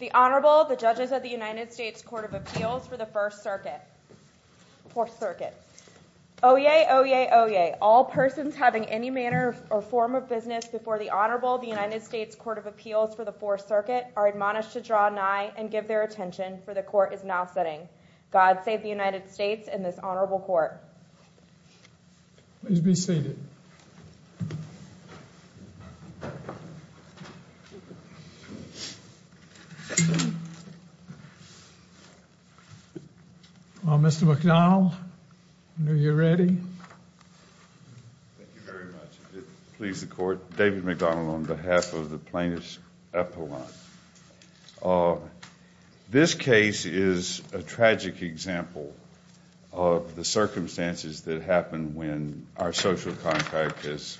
The Honorable, the Judges of the United States Court of Appeals for the Fourth Circuit. Oyez! Oyez! Oyez! All persons having any manner or form of business before the Honorable, the United States Court of Appeals for the Fourth Circuit, are admonished to draw nigh and give their attention, for the Court is now sitting. God save the United States and this Honorable Court. Please be seated. Mr. McDonnell, are you ready? Thank you very much. It pleases the Court. David McDonnell on behalf of the Plaintiffs Appellant. This case is a tragic example of the circumstances that happen when our social contract is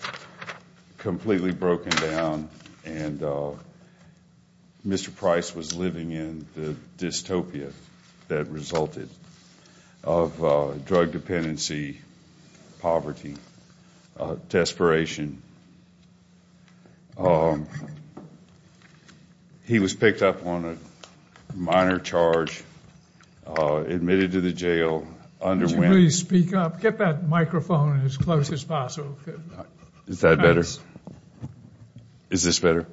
completely broken down and Mr. Price was living in the dystopia that resulted of drug dependency, poverty, desperation. He was picked up on a minor charge, admitted to the jail, underwent... Would you please speak up? Get that microphone as close as possible. Is that better? Is this better?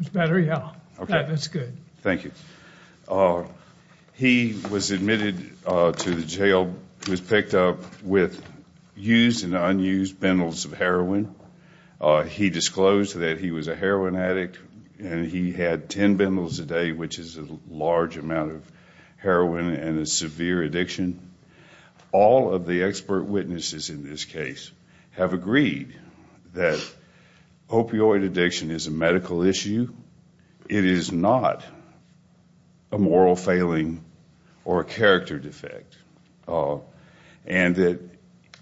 It's better, yeah. That looks good. Thank you. He was admitted to the jail, was picked up with used and unused bundles of heroin. He disclosed that he was a heroin addict and he had ten bundles a day, which is a large amount of heroin and a severe addiction. All of the expert witnesses in this case have agreed that opioid addiction is a medical issue. It is not a moral failing or a character defect. And that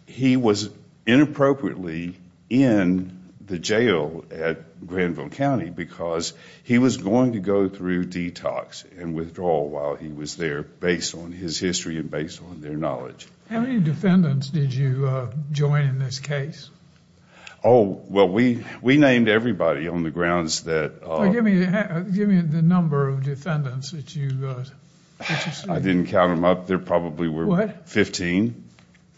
he was inappropriately in the jail at Granville County because he was going to go through detox and withdrawal while he was there based on his history and based on their knowledge. How many defendants did you join in this case? Oh, well, we named everybody on the grounds that... Give me the number of defendants that you... I didn't count them up. There probably were 15.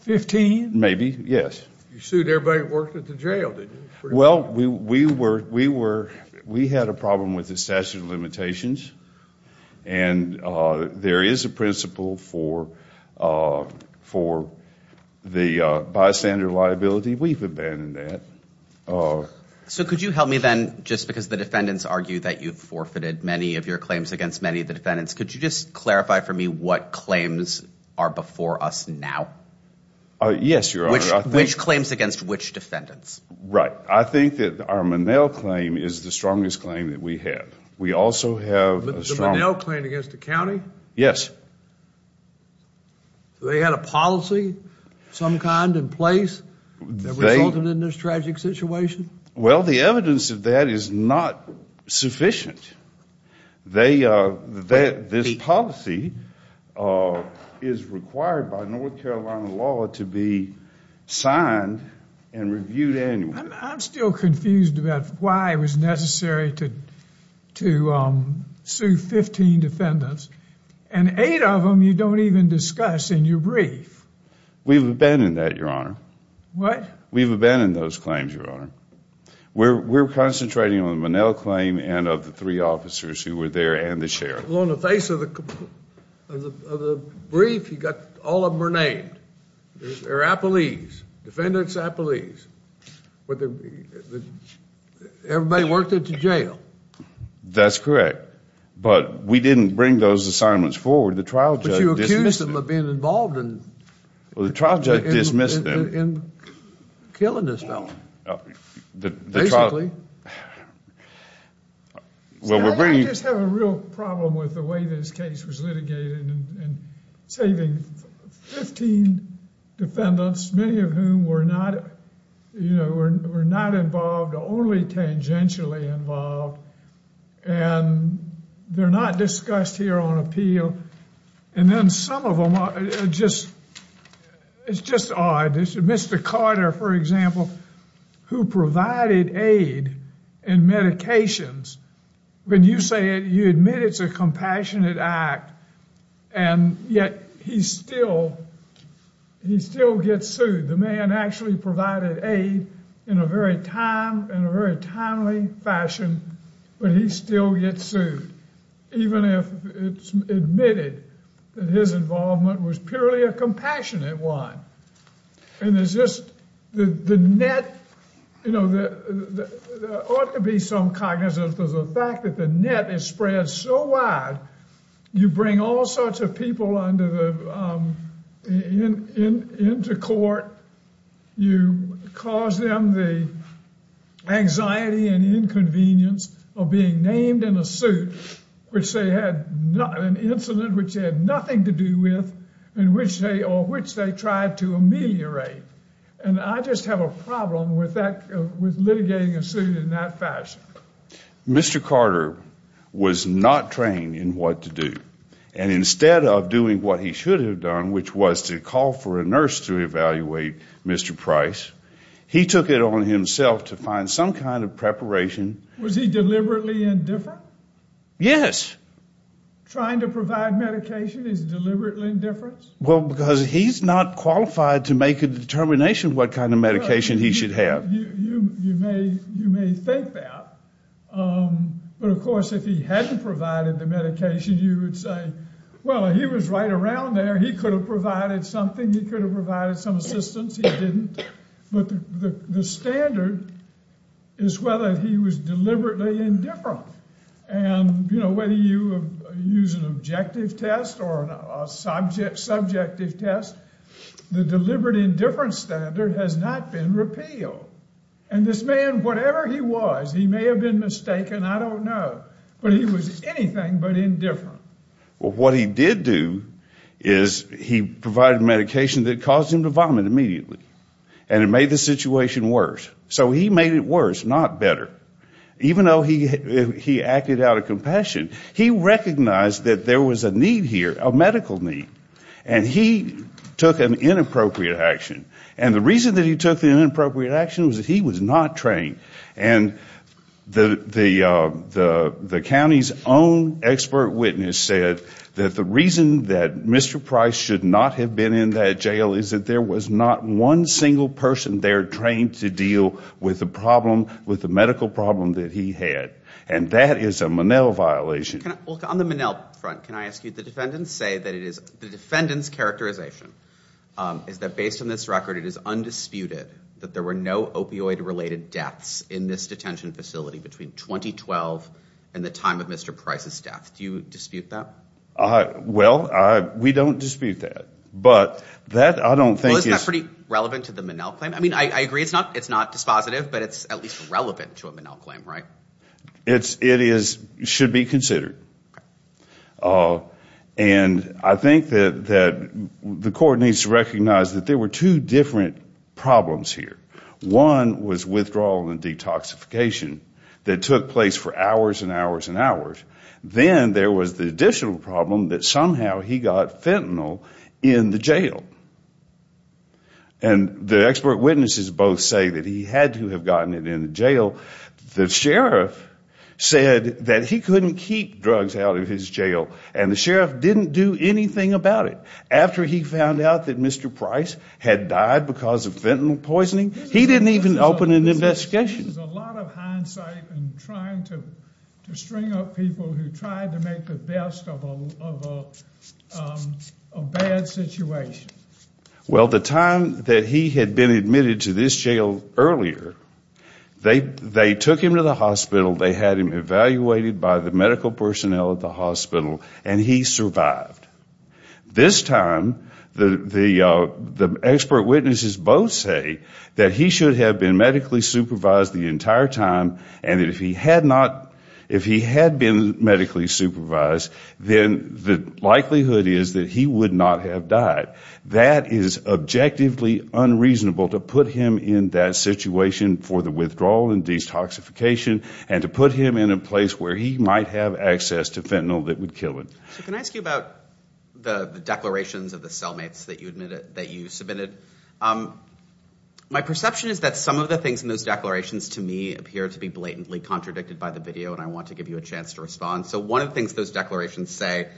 Fifteen? Maybe, yes. You sued everybody that worked at the jail, didn't you? Well, we had a problem with the statute of limitations and there is a principle for the bystander liability. We've abandoned that. So could you help me then, just because the defendants argue that you've forfeited many of your claims against many of the defendants, could you just clarify for me what claims are before us now? Yes, Your Honor. Which claims against which defendants? Right. I think that our Monell claim is the strongest claim that we have. We also have a strong... The Monell claim against the county? Yes. They had a policy of some kind in place that resulted in this tragic situation? Well, the evidence of that is not sufficient. This policy is required by North Carolina law to be signed and reviewed annually. I'm still confused about why it was necessary to sue 15 defendants and eight of them you don't even discuss in your brief. We've abandoned that, Your Honor. What? We've abandoned those claims, Your Honor. We're concentrating on the Monell claim and of the three officers who were there and the sheriff. Well, on the face of the brief, all of them are named. They're appelees, defendant's appelees. Everybody worked at the jail. That's correct. But we didn't bring those assignments forward. The trial judge dismissed them. But you accused them of being involved in... The trial judge dismissed them. ...in killing this fellow, basically. Well, we're bringing... I just have a real problem with the way this case was litigated in saving 15 defendants, many of whom were not involved, only tangentially involved. And they're not discussed here on appeal. And then some of them are just... It's just odd. Mr. Carter, for example, who provided aid and medications. When you say it, you admit it's a compassionate act, and yet he still gets sued. The man actually provided aid in a very timely fashion, but he still gets sued. Even if it's admitted that his involvement was purely a compassionate one. And there's just the net... You know, there ought to be some cognizance of the fact that the net is spread so wide. You bring all sorts of people into court. You cause them the anxiety and inconvenience of being named in a suit, which they had an incident which they had nothing to do with, or which they tried to ameliorate. And I just have a problem with litigating a suit in that fashion. Mr. Carter was not trained in what to do. And instead of doing what he should have done, which was to call for a nurse to evaluate Mr. Price, he took it on himself to find some kind of preparation. Was he deliberately indifferent? Yes. Trying to provide medication is deliberately indifferent? Well, because he's not qualified to make a determination what kind of medication he should have. You may think that. But, of course, if he hadn't provided the medication, you would say, well, he was right around there. He could have provided something. He could have provided some assistance. He didn't. But the standard is whether he was deliberately indifferent. And, you know, whether you use an objective test or a subjective test, the deliberate indifference standard has not been repealed. And this man, whatever he was, he may have been mistaken, I don't know. But he was anything but indifferent. What he did do is he provided medication that caused him to vomit immediately. And it made the situation worse. So he made it worse, not better. Even though he acted out of compassion, he recognized that there was a need here, a medical need. And he took an inappropriate action. And the reason that he took the inappropriate action was that he was not trained. And the county's own expert witness said that the reason that Mr. Price should not have been in that jail is that there was not one single person there trained to deal with the medical problem that he had. And that is a Monell violation. On the Monell front, can I ask you, the defendants say that it is the defendant's characterization is that based on this record, it is undisputed that there were no opioid-related deaths in this detention facility between 2012 and the time of Mr. Price's death. Do you dispute that? Well, we don't dispute that. But that I don't think is... Well, isn't that pretty relevant to the Monell claim? I mean, I agree it's not dispositive, but it's at least relevant to a Monell claim, right? It should be considered. And I think that the court needs to recognize that there were two different problems here. One was withdrawal and detoxification that took place for hours and hours and hours. Then there was the additional problem that somehow he got fentanyl in the jail. And the expert witnesses both say that he had to have gotten it in the jail. The sheriff said that he couldn't keep drugs out of his jail, and the sheriff didn't do anything about it. After he found out that Mr. Price had died because of fentanyl poisoning, he didn't even open an investigation. There's a lot of hindsight in trying to string up people who tried to make the best of a bad situation. Well, the time that he had been admitted to this jail earlier, they took him to the hospital, they had him evaluated by the medical personnel at the hospital, and he survived. This time, the expert witnesses both say that he should have been medically supervised the entire time, and that if he had been medically supervised, then the likelihood is that he would not have died. That is objectively unreasonable to put him in that situation for the withdrawal and detoxification and to put him in a place where he might have access to fentanyl that would kill him. So can I ask you about the declarations of the cellmates that you submitted? My perception is that some of the things in those declarations to me appear to be blatantly contradicted by the video, and I want to give you a chance to respond. So one of the things those declarations say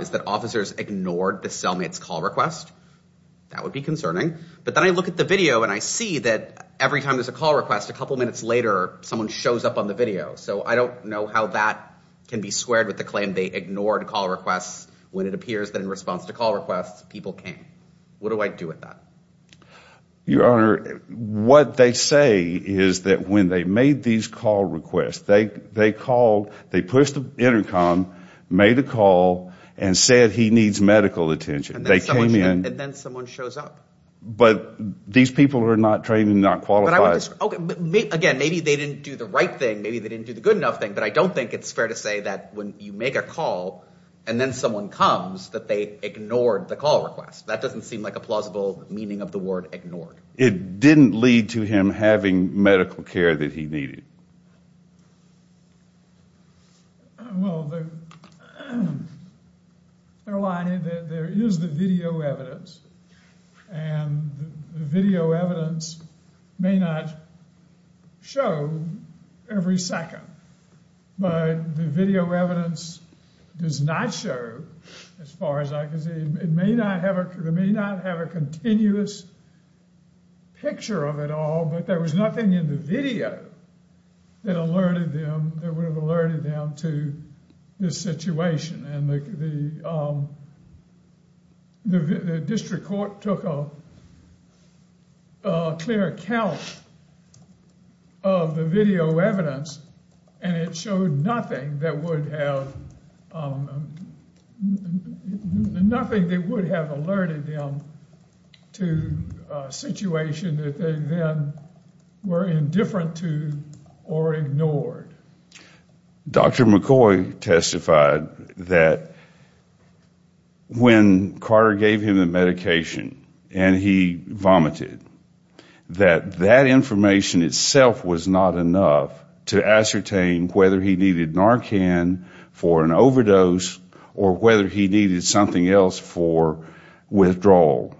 is that officers ignored the cellmate's call request. That would be concerning. But then I look at the video, and I see that every time there's a call request, a couple minutes later, someone shows up on the video. So I don't know how that can be squared with the claim they ignored call requests when it appears that in response to call requests, people came. What do I do with that? Your Honor, what they say is that when they made these call requests, they called, they pushed the intercom, made a call, and said he needs medical attention. And then someone shows up. But these people are not trained and not qualified. Okay, again, maybe they didn't do the right thing. Maybe they didn't do the good enough thing, but I don't think it's fair to say that when you make a call and then someone comes that they ignored the call request. That doesn't seem like a plausible meaning of the word ignored. It didn't lead to him having medical care that he needed. Well, there is the video evidence, and the video evidence may not show every second. But the video evidence does not show as far as I can see. It may not have a continuous picture of it all, but there was nothing in the video that alerted them, that would have alerted them to this situation. And the district court took a clear account of the video evidence, and it showed nothing that would have, nothing that would have alerted them to a situation that they then were indifferent to or ignored. Dr. McCoy testified that when Carter gave him the medication and he vomited, that that information itself was not enough to ascertain whether he needed Narcan for an overdose or whether he needed something else for withdrawal.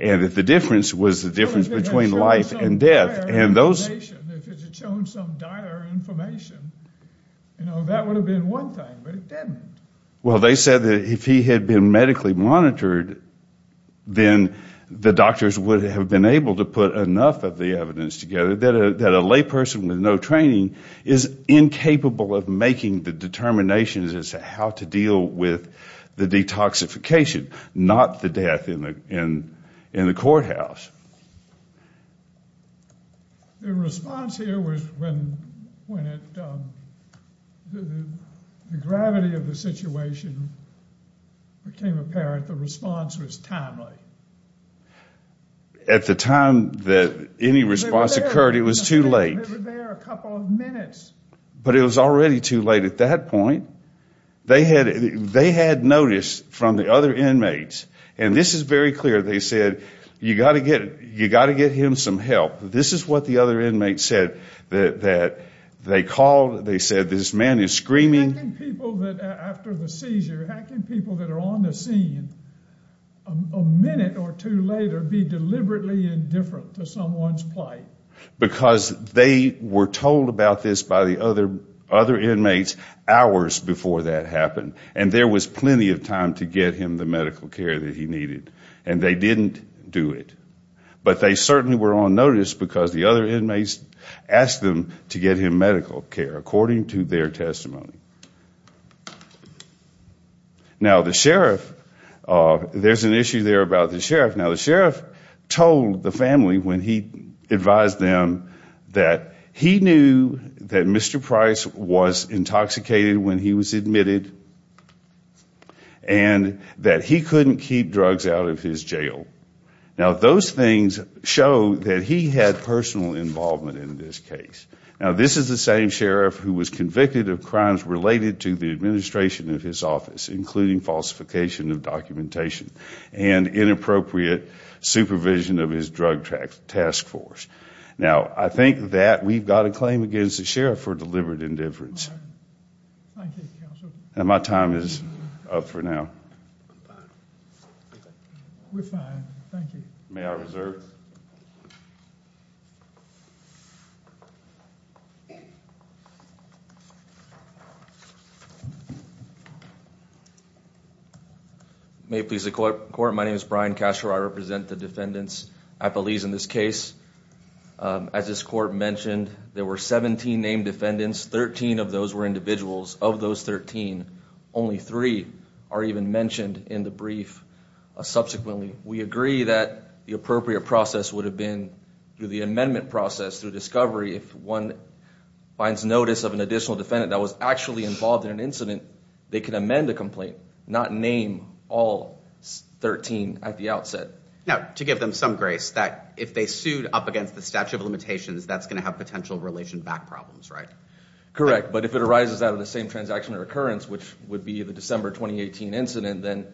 And that the difference was the difference between life and death. If it had shown some dire information, that would have been one thing, but it didn't. Well, they said that if he had been medically monitored, then the doctors would have been able to put enough of the evidence together that a layperson with no training is incapable of making the determinations as to how to deal with the detoxification, not the death in the courthouse. The response here was when the gravity of the situation became apparent, the response was timely. At the time that any response occurred, it was too late. They were there a couple of minutes. But it was already too late at that point. They had notice from the other inmates, and this is very clear. They said, you've got to get him some help. This is what the other inmates said that they called. They said, this man is screaming. How can people after the seizure, how can people that are on the scene a minute or two later be deliberately indifferent to someone's plight? Because they were told about this by the other inmates hours before that happened. And there was plenty of time to get him the medical care that he needed. And they didn't do it. But they certainly were on notice because the other inmates asked them to get him medical care, according to their testimony. Now, the sheriff, there's an issue there about the sheriff. Now, the sheriff told the family when he advised them that he knew that Mr. Price was intoxicated when he was admitted and that he couldn't keep drugs out of his jail. Now, those things show that he had personal involvement in this case. Now, this is the same sheriff who was convicted of crimes related to the administration of his office, including falsification of documentation and inappropriate supervision of his drug task force. Now, I think that we've got a claim against the sheriff for deliberate indifference. Thank you, counsel. My time is up for now. We're fine. Thank you. May I reserve? May it please the court. My name is Brian Castro. I represent the defendants at Belize in this case. As this court mentioned, there were 17 named defendants. Thirteen of those were individuals. Of those 13, only three are even mentioned in the brief. Subsequently, we agree that the appropriate process would have been through the amendment process, through discovery if one finds notice of an additional defendant that was actually involved in an incident, they can amend the complaint, not name all 13 at the outset. Now, to give them some grace, that if they sued up against the statute of limitations, that's going to have potential relation back problems, right? Correct. But if it arises out of the same transaction or occurrence, which would be the December 2018 incident, then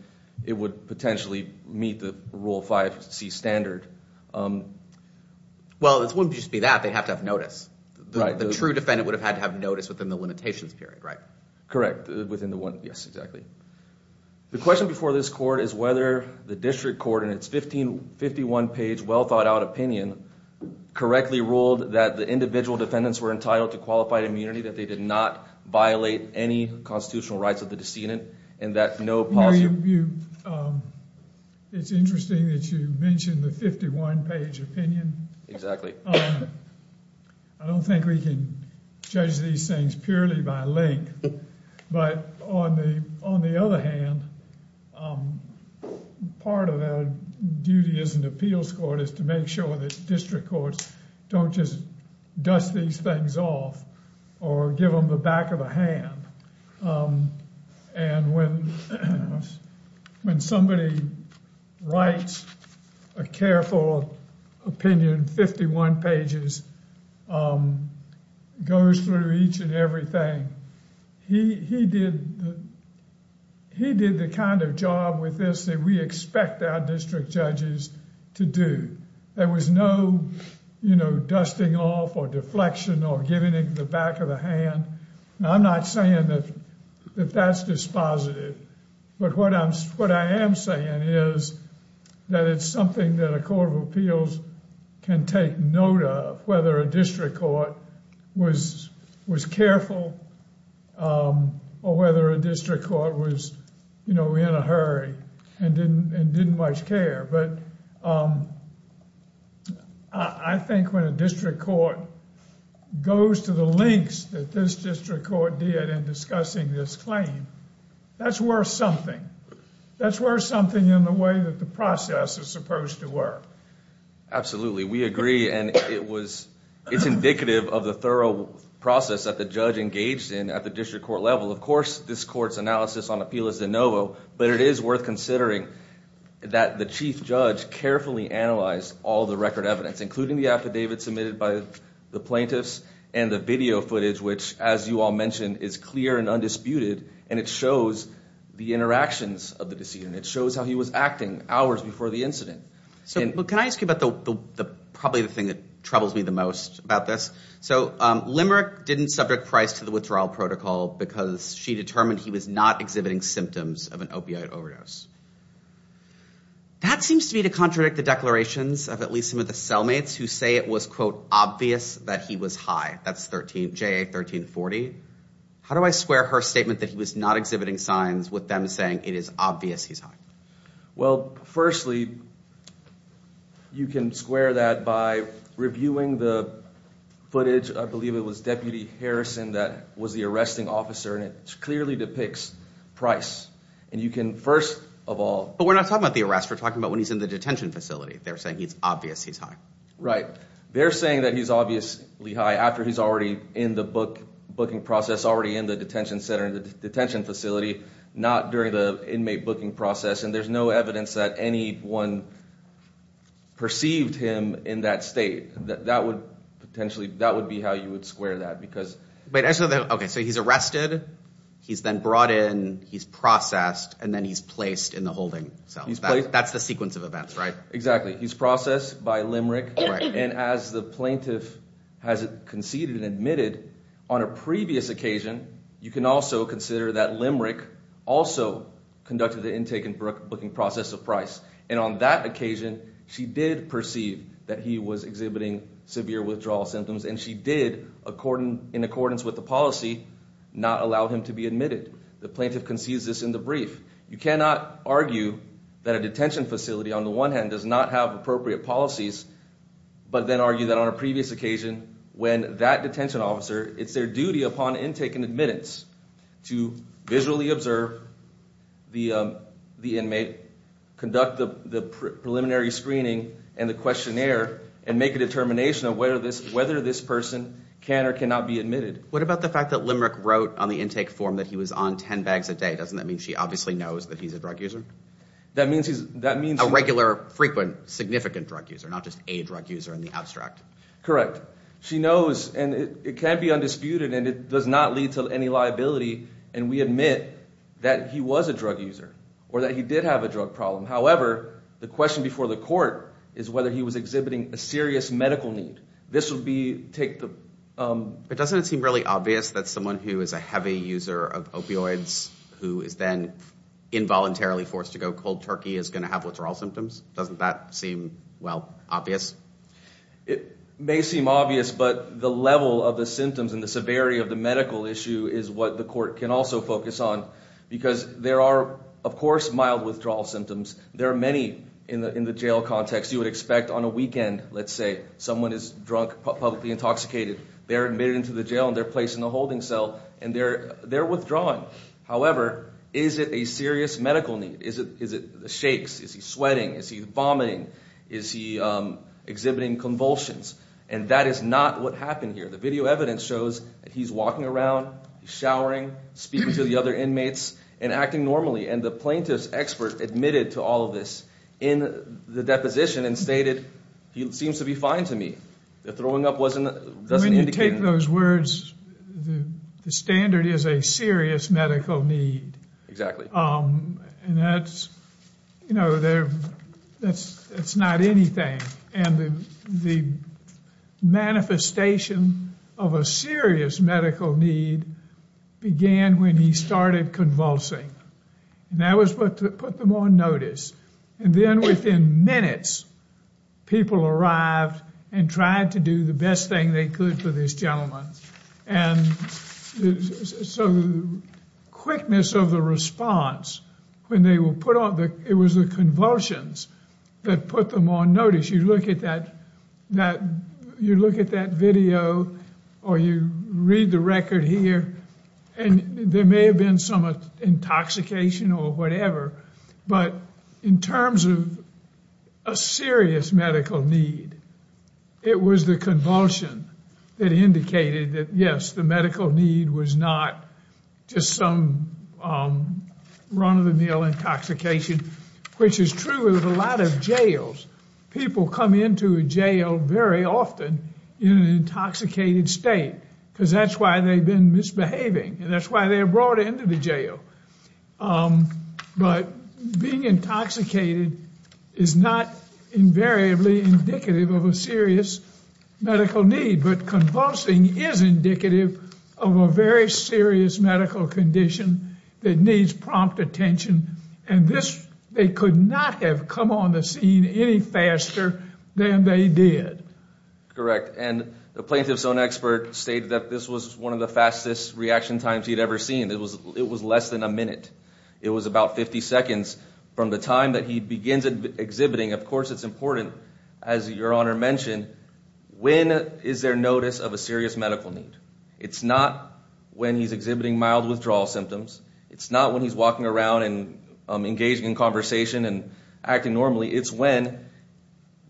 it would potentially meet the Rule 5C standard. Well, it wouldn't just be that. They'd have to have notice. The true defendant would have had to have notice within the limitations period, right? Correct, within the one. Yes, exactly. The question before this court is whether the district court, in its 1551-page, well-thought-out opinion, correctly ruled that the individual defendants were entitled to qualified immunity, that they did not violate any constitutional rights of the decedent, and that no positive— You know, it's interesting that you mention the 51-page opinion. Exactly. I don't think we can judge these things purely by length. But on the other hand, part of our duty as an appeals court is to make sure that district courts don't just dust these things off or give them the back of a hand. And when somebody writes a careful opinion, 51 pages, goes through each and everything, he did the kind of job with this that we expect our district judges to do. There was no, you know, dusting off or deflection or giving it the back of a hand. Now, I'm not saying that that's dispositive. But what I am saying is that it's something that a court of appeals can take note of, whether a district court was careful or whether a district court was, you know, in a hurry and didn't much care. But I think when a district court goes to the lengths that this district court did in discussing this claim, that's worth something. That's worth something in the way that the process is supposed to work. Absolutely. We agree. And it's indicative of the thorough process that the judge engaged in at the district court level. Of course, this court's analysis on appeal is de novo. But it is worth considering that the chief judge carefully analyzed all the record evidence, including the affidavit submitted by the plaintiffs and the video footage, which, as you all mentioned, is clear and undisputed. And it shows the interactions of the decedent. It shows how he was acting hours before the incident. Can I ask you about probably the thing that troubles me the most about this? So Limerick didn't subject Price to the withdrawal protocol because she determined he was not exhibiting symptoms of an opioid overdose. That seems to me to contradict the declarations of at least some of the cellmates who say it was, quote, obvious that he was high. That's J.A. 1340. How do I square her statement that he was not exhibiting signs with them saying it is obvious he's high? Well, firstly, you can square that by reviewing the footage. I believe it was Deputy Harrison that was the arresting officer, and it clearly depicts Price. And you can first of all – But we're not talking about the arrest. We're talking about when he's in the detention facility. They're saying it's obvious he's high. Right. They're saying that he's obviously high after he's already in the booking process, already in the detention center, the detention facility, not during the inmate booking process. And there's no evidence that anyone perceived him in that state. That would potentially – that would be how you would square that because – Wait. Okay. So he's arrested. He's then brought in. He's processed. And then he's placed in the holding cell. That's the sequence of events, right? Exactly. He's processed by Limerick. Right. And as the plaintiff has conceded and admitted, on a previous occasion, you can also consider that Limerick also conducted the intake and booking process of Price. And on that occasion, she did perceive that he was exhibiting severe withdrawal symptoms, and she did, in accordance with the policy, not allow him to be admitted. The plaintiff concedes this in the brief. You cannot argue that a detention facility, on the one hand, does not have appropriate policies, but then argue that on a previous occasion, when that detention officer – it's their duty upon intake and admittance to visually observe the inmate, conduct the preliminary screening and the questionnaire, and make a determination of whether this person can or cannot be admitted. What about the fact that Limerick wrote on the intake form that he was on 10 bags a day? Doesn't that mean she obviously knows that he's a drug user? That means he's – A regular, frequent, significant drug user, not just a drug user in the abstract. Correct. She knows, and it can be undisputed, and it does not lead to any liability. And we admit that he was a drug user or that he did have a drug problem. However, the question before the court is whether he was exhibiting a serious medical need. This would be – take the – But doesn't it seem really obvious that someone who is a heavy user of opioids, who is then involuntarily forced to go cold turkey, is going to have withdrawal symptoms? Doesn't that seem, well, obvious? It may seem obvious, but the level of the symptoms and the severity of the medical issue is what the court can also focus on, because there are, of course, mild withdrawal symptoms. There are many in the jail context. You would expect on a weekend, let's say, someone is drunk, publicly intoxicated. They're admitted into the jail, and they're placed in the holding cell, and they're withdrawing. However, is it a serious medical need? Is it the shakes? Is he sweating? Is he vomiting? Is he exhibiting convulsions? And that is not what happened here. The video evidence shows that he's walking around, he's showering, speaking to the other inmates, and acting normally. And the plaintiff's expert admitted to all of this in the deposition and stated, he seems to be fine to me. The throwing up doesn't indicate anything. When you take those words, the standard is a serious medical need. Exactly. And that's, you know, it's not anything. And the manifestation of a serious medical need began when he started convulsing. And that was what put them on notice. And then within minutes, people arrived and tried to do the best thing they could for this gentleman. And so the quickness of the response, when they were put on, it was the convulsions that put them on notice. You look at that video, or you read the record here, and there may have been some intoxication or whatever. But in terms of a serious medical need, it was the convulsion that indicated that, yes, the medical need was not just some run-of-the-mill intoxication. Which is true of a lot of jails. People come into a jail very often in an intoxicated state, because that's why they've been misbehaving. And that's why they're brought into the jail. But being intoxicated is not invariably indicative of a serious medical need. But convulsing is indicative of a very serious medical condition that needs prompt attention. And this, they could not have come on the scene any faster than they did. Correct. And the plaintiff's own expert stated that this was one of the fastest reaction times he'd ever seen. It was less than a minute. It was about 50 seconds from the time that he begins exhibiting. Of course, it's important, as Your Honor mentioned, when is there notice of a serious medical need? It's not when he's exhibiting mild withdrawal symptoms. It's not when he's walking around and engaging in conversation and acting normally. It's when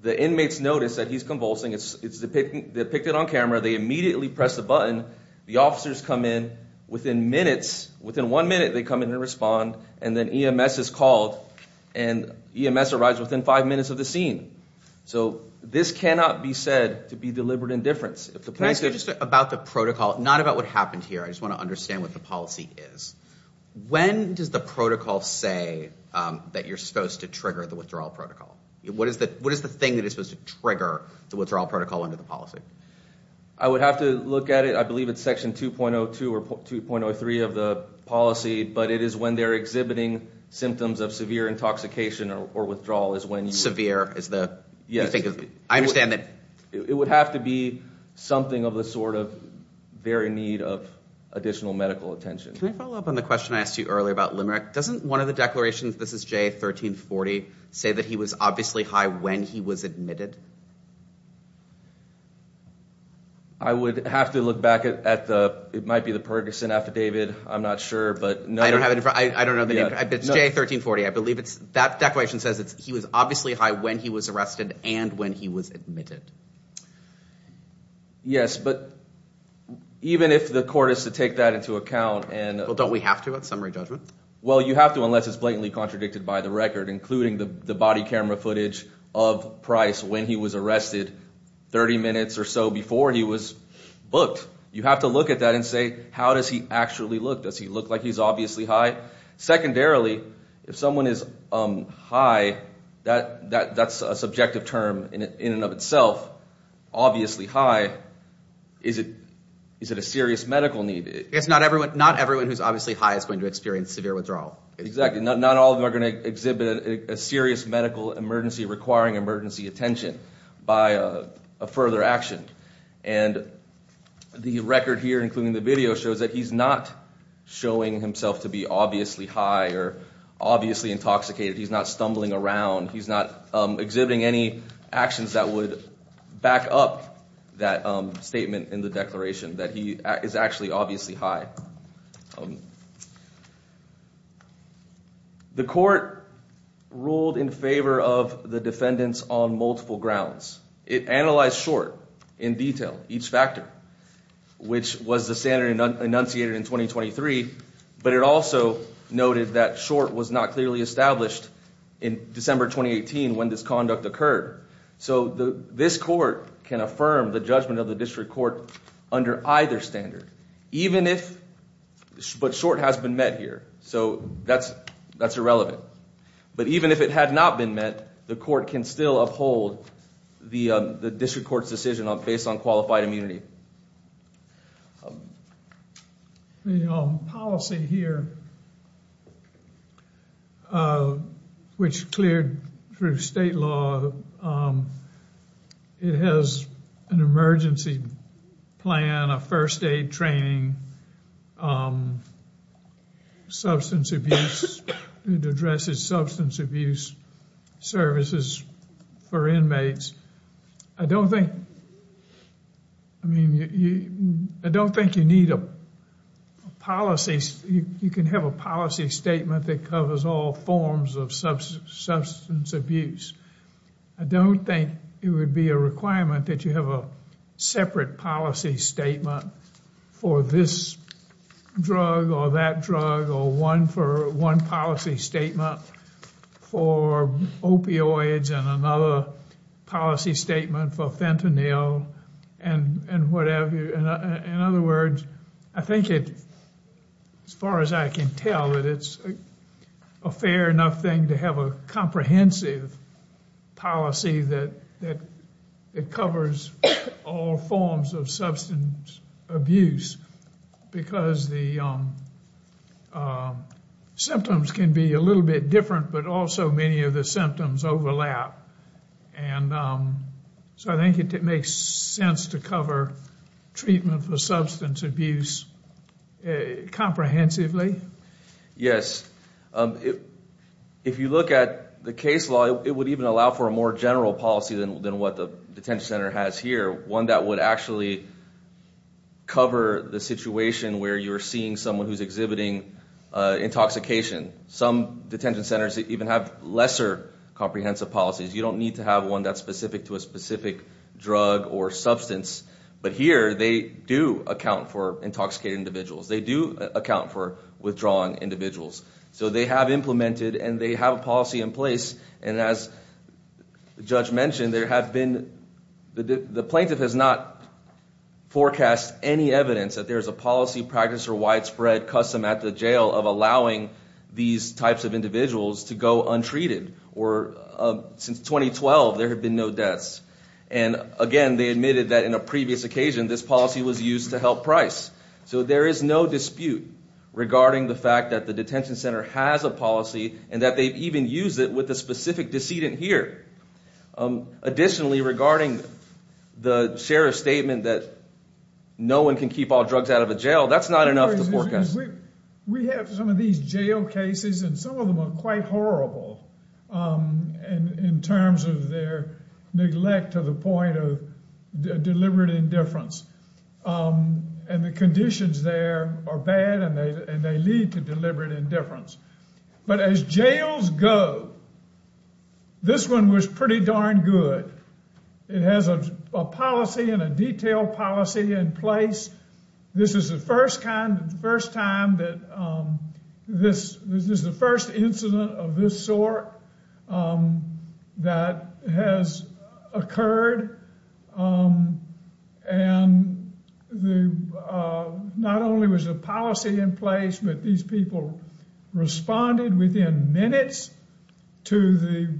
the inmates notice that he's convulsing. They pick it on camera. They immediately press the button. The officers come in. Within minutes, within one minute, they come in and respond. And then EMS is called, and EMS arrives within five minutes of the scene. So this cannot be said to be deliberate indifference. Can I say just about the protocol, not about what happened here? I just want to understand what the policy is. When does the protocol say that you're supposed to trigger the withdrawal protocol? What is the thing that is supposed to trigger the withdrawal protocol under the policy? I would have to look at it. I believe it's Section 2.02 or 2.03 of the policy, but it is when they're exhibiting symptoms of severe intoxication or withdrawal is when you— Severe is the—I understand that— It would have to be something of the sort of very need of additional medical attention. Can I follow up on the question I asked you earlier about Limerick? Doesn't one of the declarations, this is J1340, say that he was obviously high when he was admitted? I would have to look back at the—it might be the Perguson affidavit. I'm not sure, but— I don't have it. I don't know the name. It's J1340. I believe it's—that declaration says he was obviously high when he was arrested and when he was admitted. Yes, but even if the court is to take that into account and— Well, don't we have to at summary judgment? Well, you have to unless it's blatantly contradicted by the record, including the body camera footage of Price when he was arrested 30 minutes or so before he was booked. You have to look at that and say, how does he actually look? Does he look like he's obviously high? Secondarily, if someone is high, that's a subjective term in and of itself, obviously high. Is it a serious medical need? Not everyone who's obviously high is going to experience severe withdrawal. Exactly. Not all of them are going to exhibit a serious medical emergency requiring emergency attention by a further action. And the record here, including the video, shows that he's not showing himself to be obviously high or obviously intoxicated. He's not stumbling around. He's not exhibiting any actions that would back up that statement in the declaration that he is actually obviously high. The court ruled in favor of the defendants on multiple grounds. It analyzed Short in detail, each factor, which was the standard enunciated in 2023. But it also noted that Short was not clearly established in December 2018 when this conduct occurred. So this court can affirm the judgment of the district court under either standard, even if Short has been met here. So that's irrelevant. But even if it had not been met, the court can still uphold the district court's decision based on qualified immunity. The policy here, which cleared through state law, it has an emergency plan, a first aid training, substance abuse. It addresses substance abuse services for inmates. I don't think you need a policy. You can have a policy statement that covers all forms of substance abuse. I don't think it would be a requirement that you have a separate policy statement for this drug or that drug or one for one policy statement for opioids and another policy statement for fentanyl and whatever. In other words, I think it, as far as I can tell, that it's a fair enough thing to have a comprehensive policy that covers all forms of substance abuse. Because the symptoms can be a little bit different, but also many of the symptoms overlap. And so I think it makes sense to cover treatment for substance abuse comprehensively. Yes. If you look at the case law, it would even allow for a more general policy than what the detention center has here. One that would actually cover the situation where you're seeing someone who's exhibiting intoxication. Some detention centers even have lesser comprehensive policies. You don't need to have one that's specific to a specific drug or substance. But here, they do account for intoxicated individuals. They do account for withdrawing individuals. So they have implemented and they have a policy in place. And as the judge mentioned, there have been, the plaintiff has not forecast any evidence that there's a policy practice or widespread custom at the jail of allowing these types of individuals to go untreated. Or since 2012, there have been no deaths. And again, they admitted that in a previous occasion, this policy was used to help price. So there is no dispute regarding the fact that the detention center has a policy and that they've even used it with a specific decedent here. Additionally, regarding the sheriff's statement that no one can keep all drugs out of a jail, that's not enough to forecast. We have some of these jail cases and some of them are quite horrible in terms of their neglect to the point of deliberate indifference. And the conditions there are bad and they lead to deliberate indifference. But as jails go, this one was pretty darn good. It has a policy and a detailed policy in place. This is the first time that this is the first incident of this sort that has occurred. And not only was a policy in place, but these people responded within minutes to the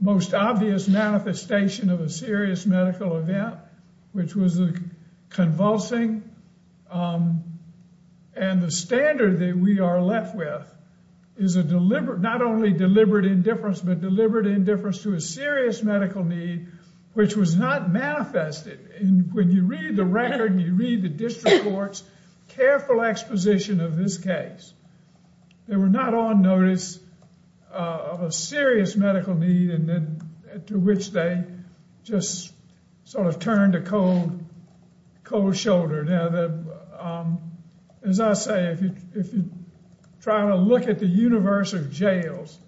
most obvious manifestation of a serious medical event, which was convulsing. And the standard that we are left with is a deliberate, not only deliberate indifference, but deliberate indifference to a serious medical need, which was not manifested. And when you read the record, you read the district court's careful exposition of this case. They were not on notice of a serious medical need and then to which they just sort of turned a cold, cold shoulder. Now, as I say, if you try to look at the universe of jails,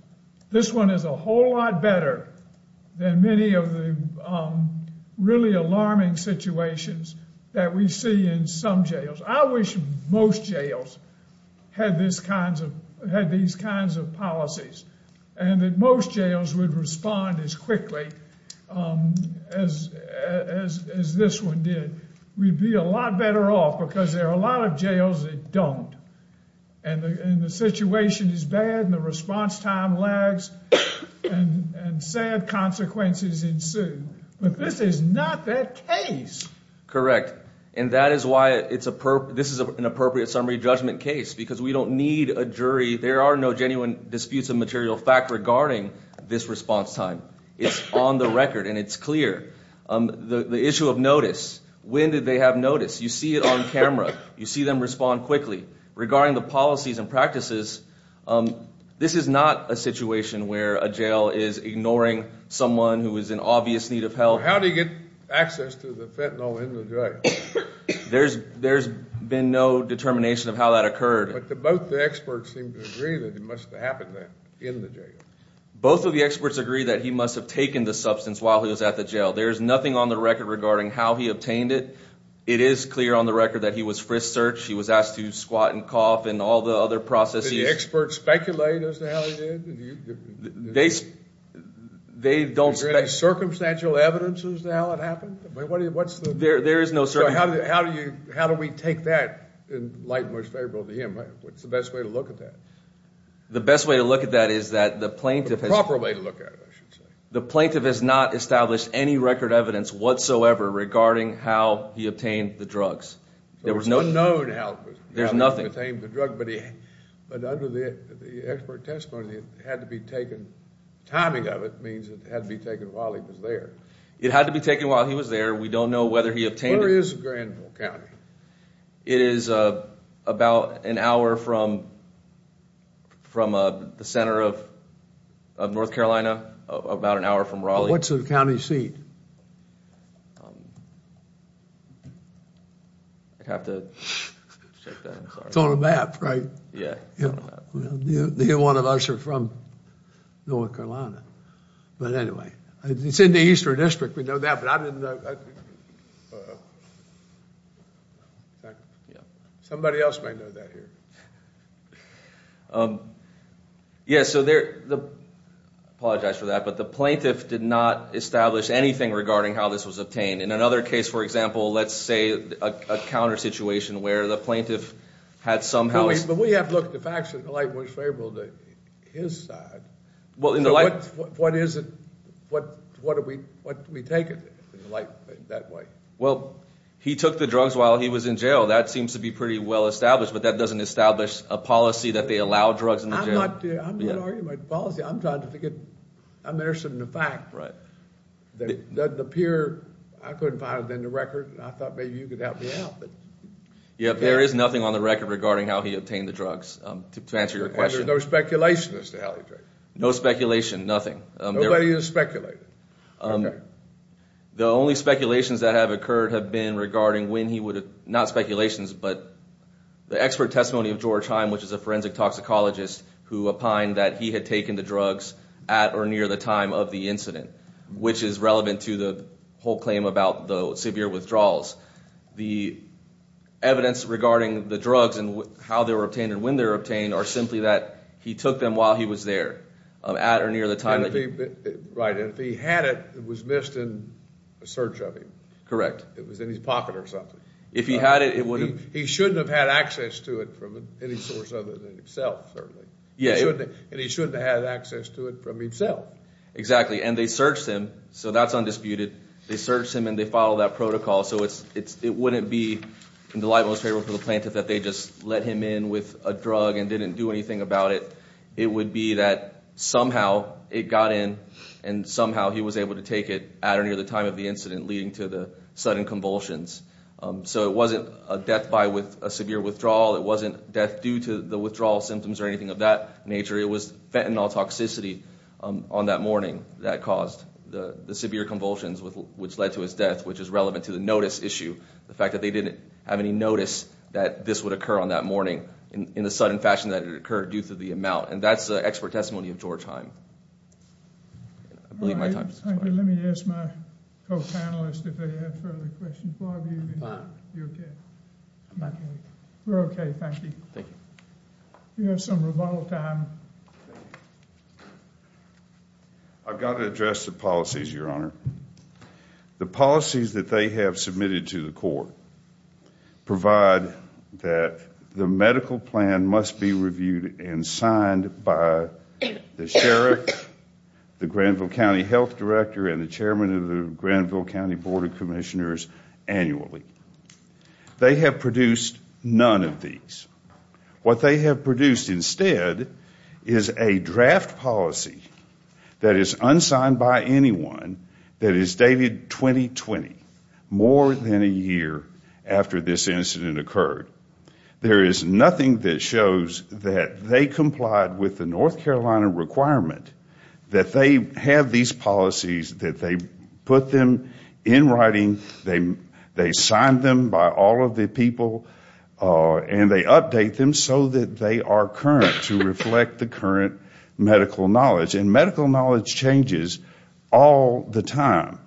this one is a whole lot better than many of the really alarming situations that we see in some jails. I wish most jails had these kinds of policies and that most jails would respond as quickly as this one did. We'd be a lot better off because there are a lot of jails that don't. And the situation is bad and the response time lags and sad consequences ensue. But this is not that case. Correct. And that is why it's a this is an appropriate summary judgment case, because we don't need a jury. There are no genuine disputes of material fact regarding this response time. It's on the record and it's clear the issue of notice. When did they have notice? You see it on camera. You see them respond quickly regarding the policies and practices. This is not a situation where a jail is ignoring someone who is in obvious need of help. So how do you get access to the fentanyl in the jail? There's been no determination of how that occurred. But both the experts seem to agree that it must have happened in the jail. Both of the experts agree that he must have taken the substance while he was at the jail. There is nothing on the record regarding how he obtained it. It is clear on the record that he was frisked, searched. He was asked to squat and cough and all the other processes. Did the experts speculate as to how he did? They don't speculate. Is there any circumstantial evidence as to how it happened? There is no circumstantial evidence. How do we take that and lighten what's favorable to him? What's the best way to look at that? The best way to look at that is that the plaintiff has... The proper way to look at it, I should say. The plaintiff has not established any record evidence whatsoever regarding how he obtained the drugs. There was no... It's unknown how he obtained the drugs. But under the expert testimony, it had to be taken... Timing of it means it had to be taken while he was there. It had to be taken while he was there. We don't know whether he obtained it. Where is Granville County? It is about an hour from the center of North Carolina, about an hour from Raleigh. What's in the county seat? I'd have to check that. It's on a map, right? Yeah. Neither one of us are from North Carolina. But anyway, it's in the Eastern District. We know that, but I didn't know... Somebody else might know that here. Yeah, so there... I apologize for that, but the plaintiff did not establish anything regarding how this was obtained. In another case, for example, let's say a counter-situation where the plaintiff had somehow... But we have to look at the facts, and the light was favorable to his side. Well, in the light... What is it... What do we take of it, in that way? Well, he took the drugs while he was in jail. That seems to be pretty well-established, but that doesn't establish a policy that they allow drugs in the jail. I'm not arguing about policy. I'm trying to get... I'm interested in the fact... Right. It doesn't appear... I couldn't find it in the record, and I thought maybe you could help me out, but... Yeah, there is nothing on the record regarding how he obtained the drugs, to answer your question. And there's no speculation as to how he did it? No speculation, nothing. Nobody has speculated? Okay. The only speculations that have occurred have been regarding when he would have... Not speculations, but the expert testimony of George Heim, which is a forensic toxicologist, who opined that he had taken the drugs at or near the time of the incident, which is relevant to the whole claim about the severe withdrawals. The evidence regarding the drugs and how they were obtained and when they were obtained are simply that he took them while he was there, at or near the time... Right, and if he had it, it was missed in a search of him. Correct. It was in his pocket or something. If he had it, it would have... He shouldn't have had access to it from any source other than himself, certainly. And he shouldn't have had access to it from himself. Exactly, and they searched him, so that's undisputed. They searched him and they followed that protocol, so it wouldn't be in the light most favorable for the plaintiff that they just let him in with a drug and didn't do anything about it. It would be that somehow it got in, and somehow he was able to take it at or near the time of the incident, leading to the sudden convulsions. So it wasn't a death by a severe withdrawal. It wasn't death due to the withdrawal symptoms or anything of that nature. It was fentanyl toxicity on that morning that caused the severe convulsions, which led to his death, which is relevant to the notice issue, the fact that they didn't have any notice that this would occur on that morning in the sudden fashion that it occurred due to the amount. And that's the expert testimony of George Heim. I believe my time is up. Thank you. Let me ask my co-panelists if they have further questions. Bob, are you okay? I'm okay. We're okay, thank you. Thank you. You have some rebuttal time. I've got to address the policies, Your Honor. The policies that they have submitted to the court provide that the medical plan must be reviewed and signed by the sheriff, the Granville County Health Director, and the chairman of the Granville County Board of Commissioners annually. They have produced none of these. What they have produced instead is a draft policy that is unsigned by anyone that is dated 2020, more than a year after this incident occurred. There is nothing that shows that they complied with the North Carolina requirement that they have these policies, that they put them in writing, they signed them by all of the people, and they update them so that they are current to reflect the current medical knowledge. And medical knowledge changes all the time.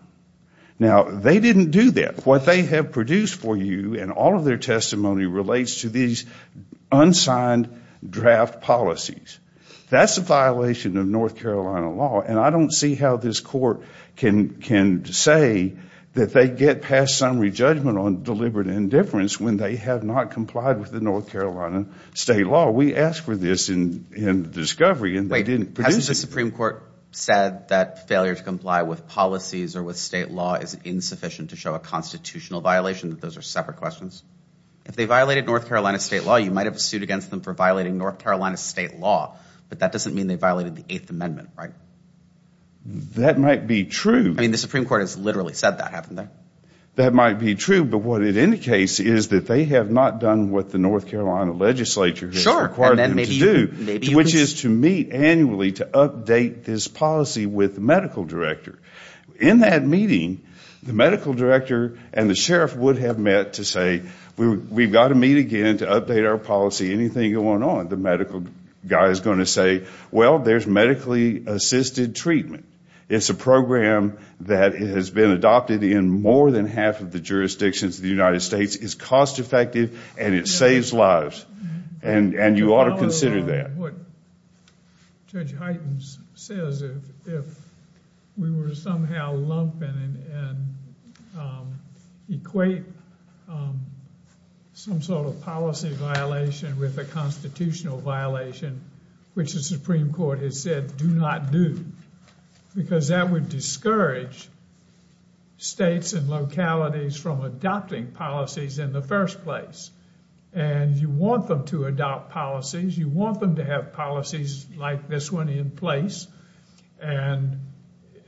Now, they didn't do that. What they have produced for you in all of their testimony relates to these unsigned draft policies. That's a violation of North Carolina law, and I don't see how this court can say that they get past summary judgment on deliberate indifference when they have not complied with the North Carolina state law. We asked for this in the discovery, and they didn't produce it. Wait, hasn't the Supreme Court said that failure to comply with policies or with state law is insufficient to show a constitutional violation, that those are separate questions? If they violated North Carolina state law, you might have a suit against them for violating North Carolina state law, but that doesn't mean they violated the Eighth Amendment, right? That might be true. I mean, the Supreme Court has literally said that, hasn't it? That might be true, but what it indicates is that they have not done what the North Carolina legislature has required them to do, which is to meet annually to update this policy with the medical director. In that meeting, the medical director and the sheriff would have met to say, we've got to meet again to update our policy, anything going on. The medical guy is going to say, well, there's medically assisted treatment. It's a program that has been adopted in more than half of the jurisdictions of the United States. It's cost effective, and it saves lives, and you ought to consider that. And what Judge Heitens says, if we were to somehow lump in and equate some sort of policy violation with a constitutional violation, which the Supreme Court has said do not do, because that would discourage states and localities from adopting policies in the first place. And you want them to adopt policies. You want them to have policies like this one in place. And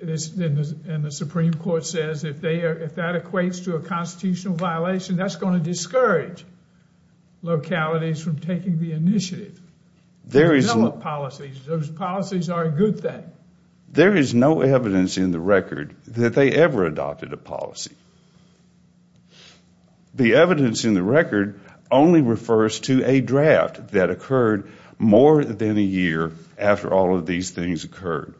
the Supreme Court says if that equates to a constitutional violation, that's going to discourage localities from taking the initiative to develop policies. Those policies are a good thing. There is no evidence in the record that they ever adopted a policy. The evidence in the record only refers to a draft that occurred more than a year after all of these things occurred.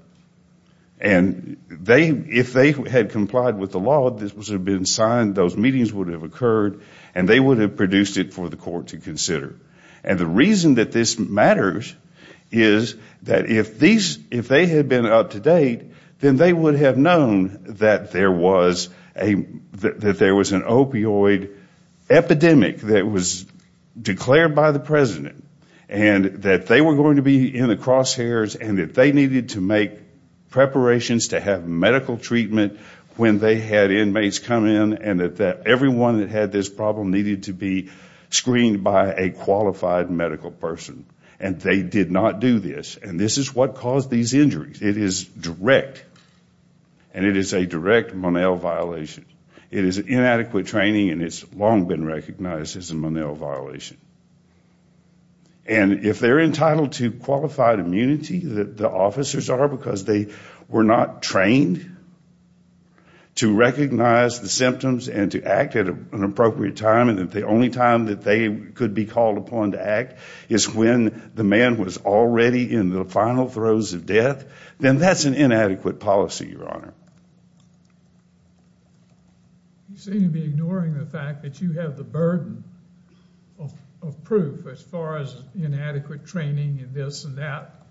And if they had complied with the law, this would have been signed, those meetings would have occurred, and they would have produced it for the court to consider. And the reason that this matters is that if they had been up to date, then they would have known that there was an opioid epidemic that was declared by the President and that they were going to be in the crosshairs and that they needed to make preparations to have medical treatment when they had inmates come in and that everyone that had this problem needed to be screened by a qualified medical person. And they did not do this. And this is what caused these injuries. It is direct. And it is a direct Monell violation. It is inadequate training and it's long been recognized as a Monell violation. And if they're entitled to qualified immunity, the officers are because they were not trained to recognize the symptoms and to act at an appropriate time and that the only time that they could be called upon to act is when the man was already in the final throes of death, then that's an inadequate policy, Your Honor. You seem to be ignoring the fact that you have the burden of proof as far as inadequate training and this and that.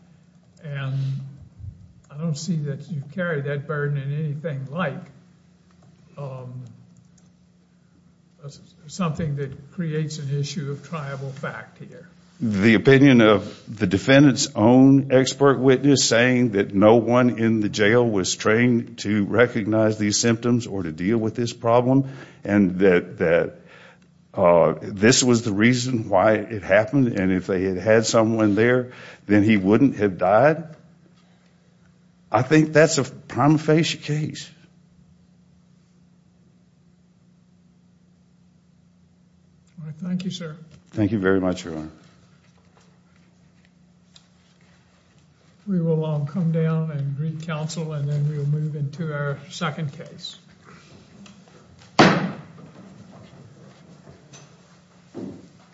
And I don't see that you carry that burden in anything like something that creates an issue of triable fact here. The opinion of the defendant's own expert witness saying that no one in the jail was trained to recognize these symptoms or to deal with this problem and that this was the reason why it happened and if they had had someone there, then he wouldn't have died, I think that's a prima facie case. Thank you, sir. Thank you very much, Your Honor. We will come down and greet counsel and then we will move into our second case.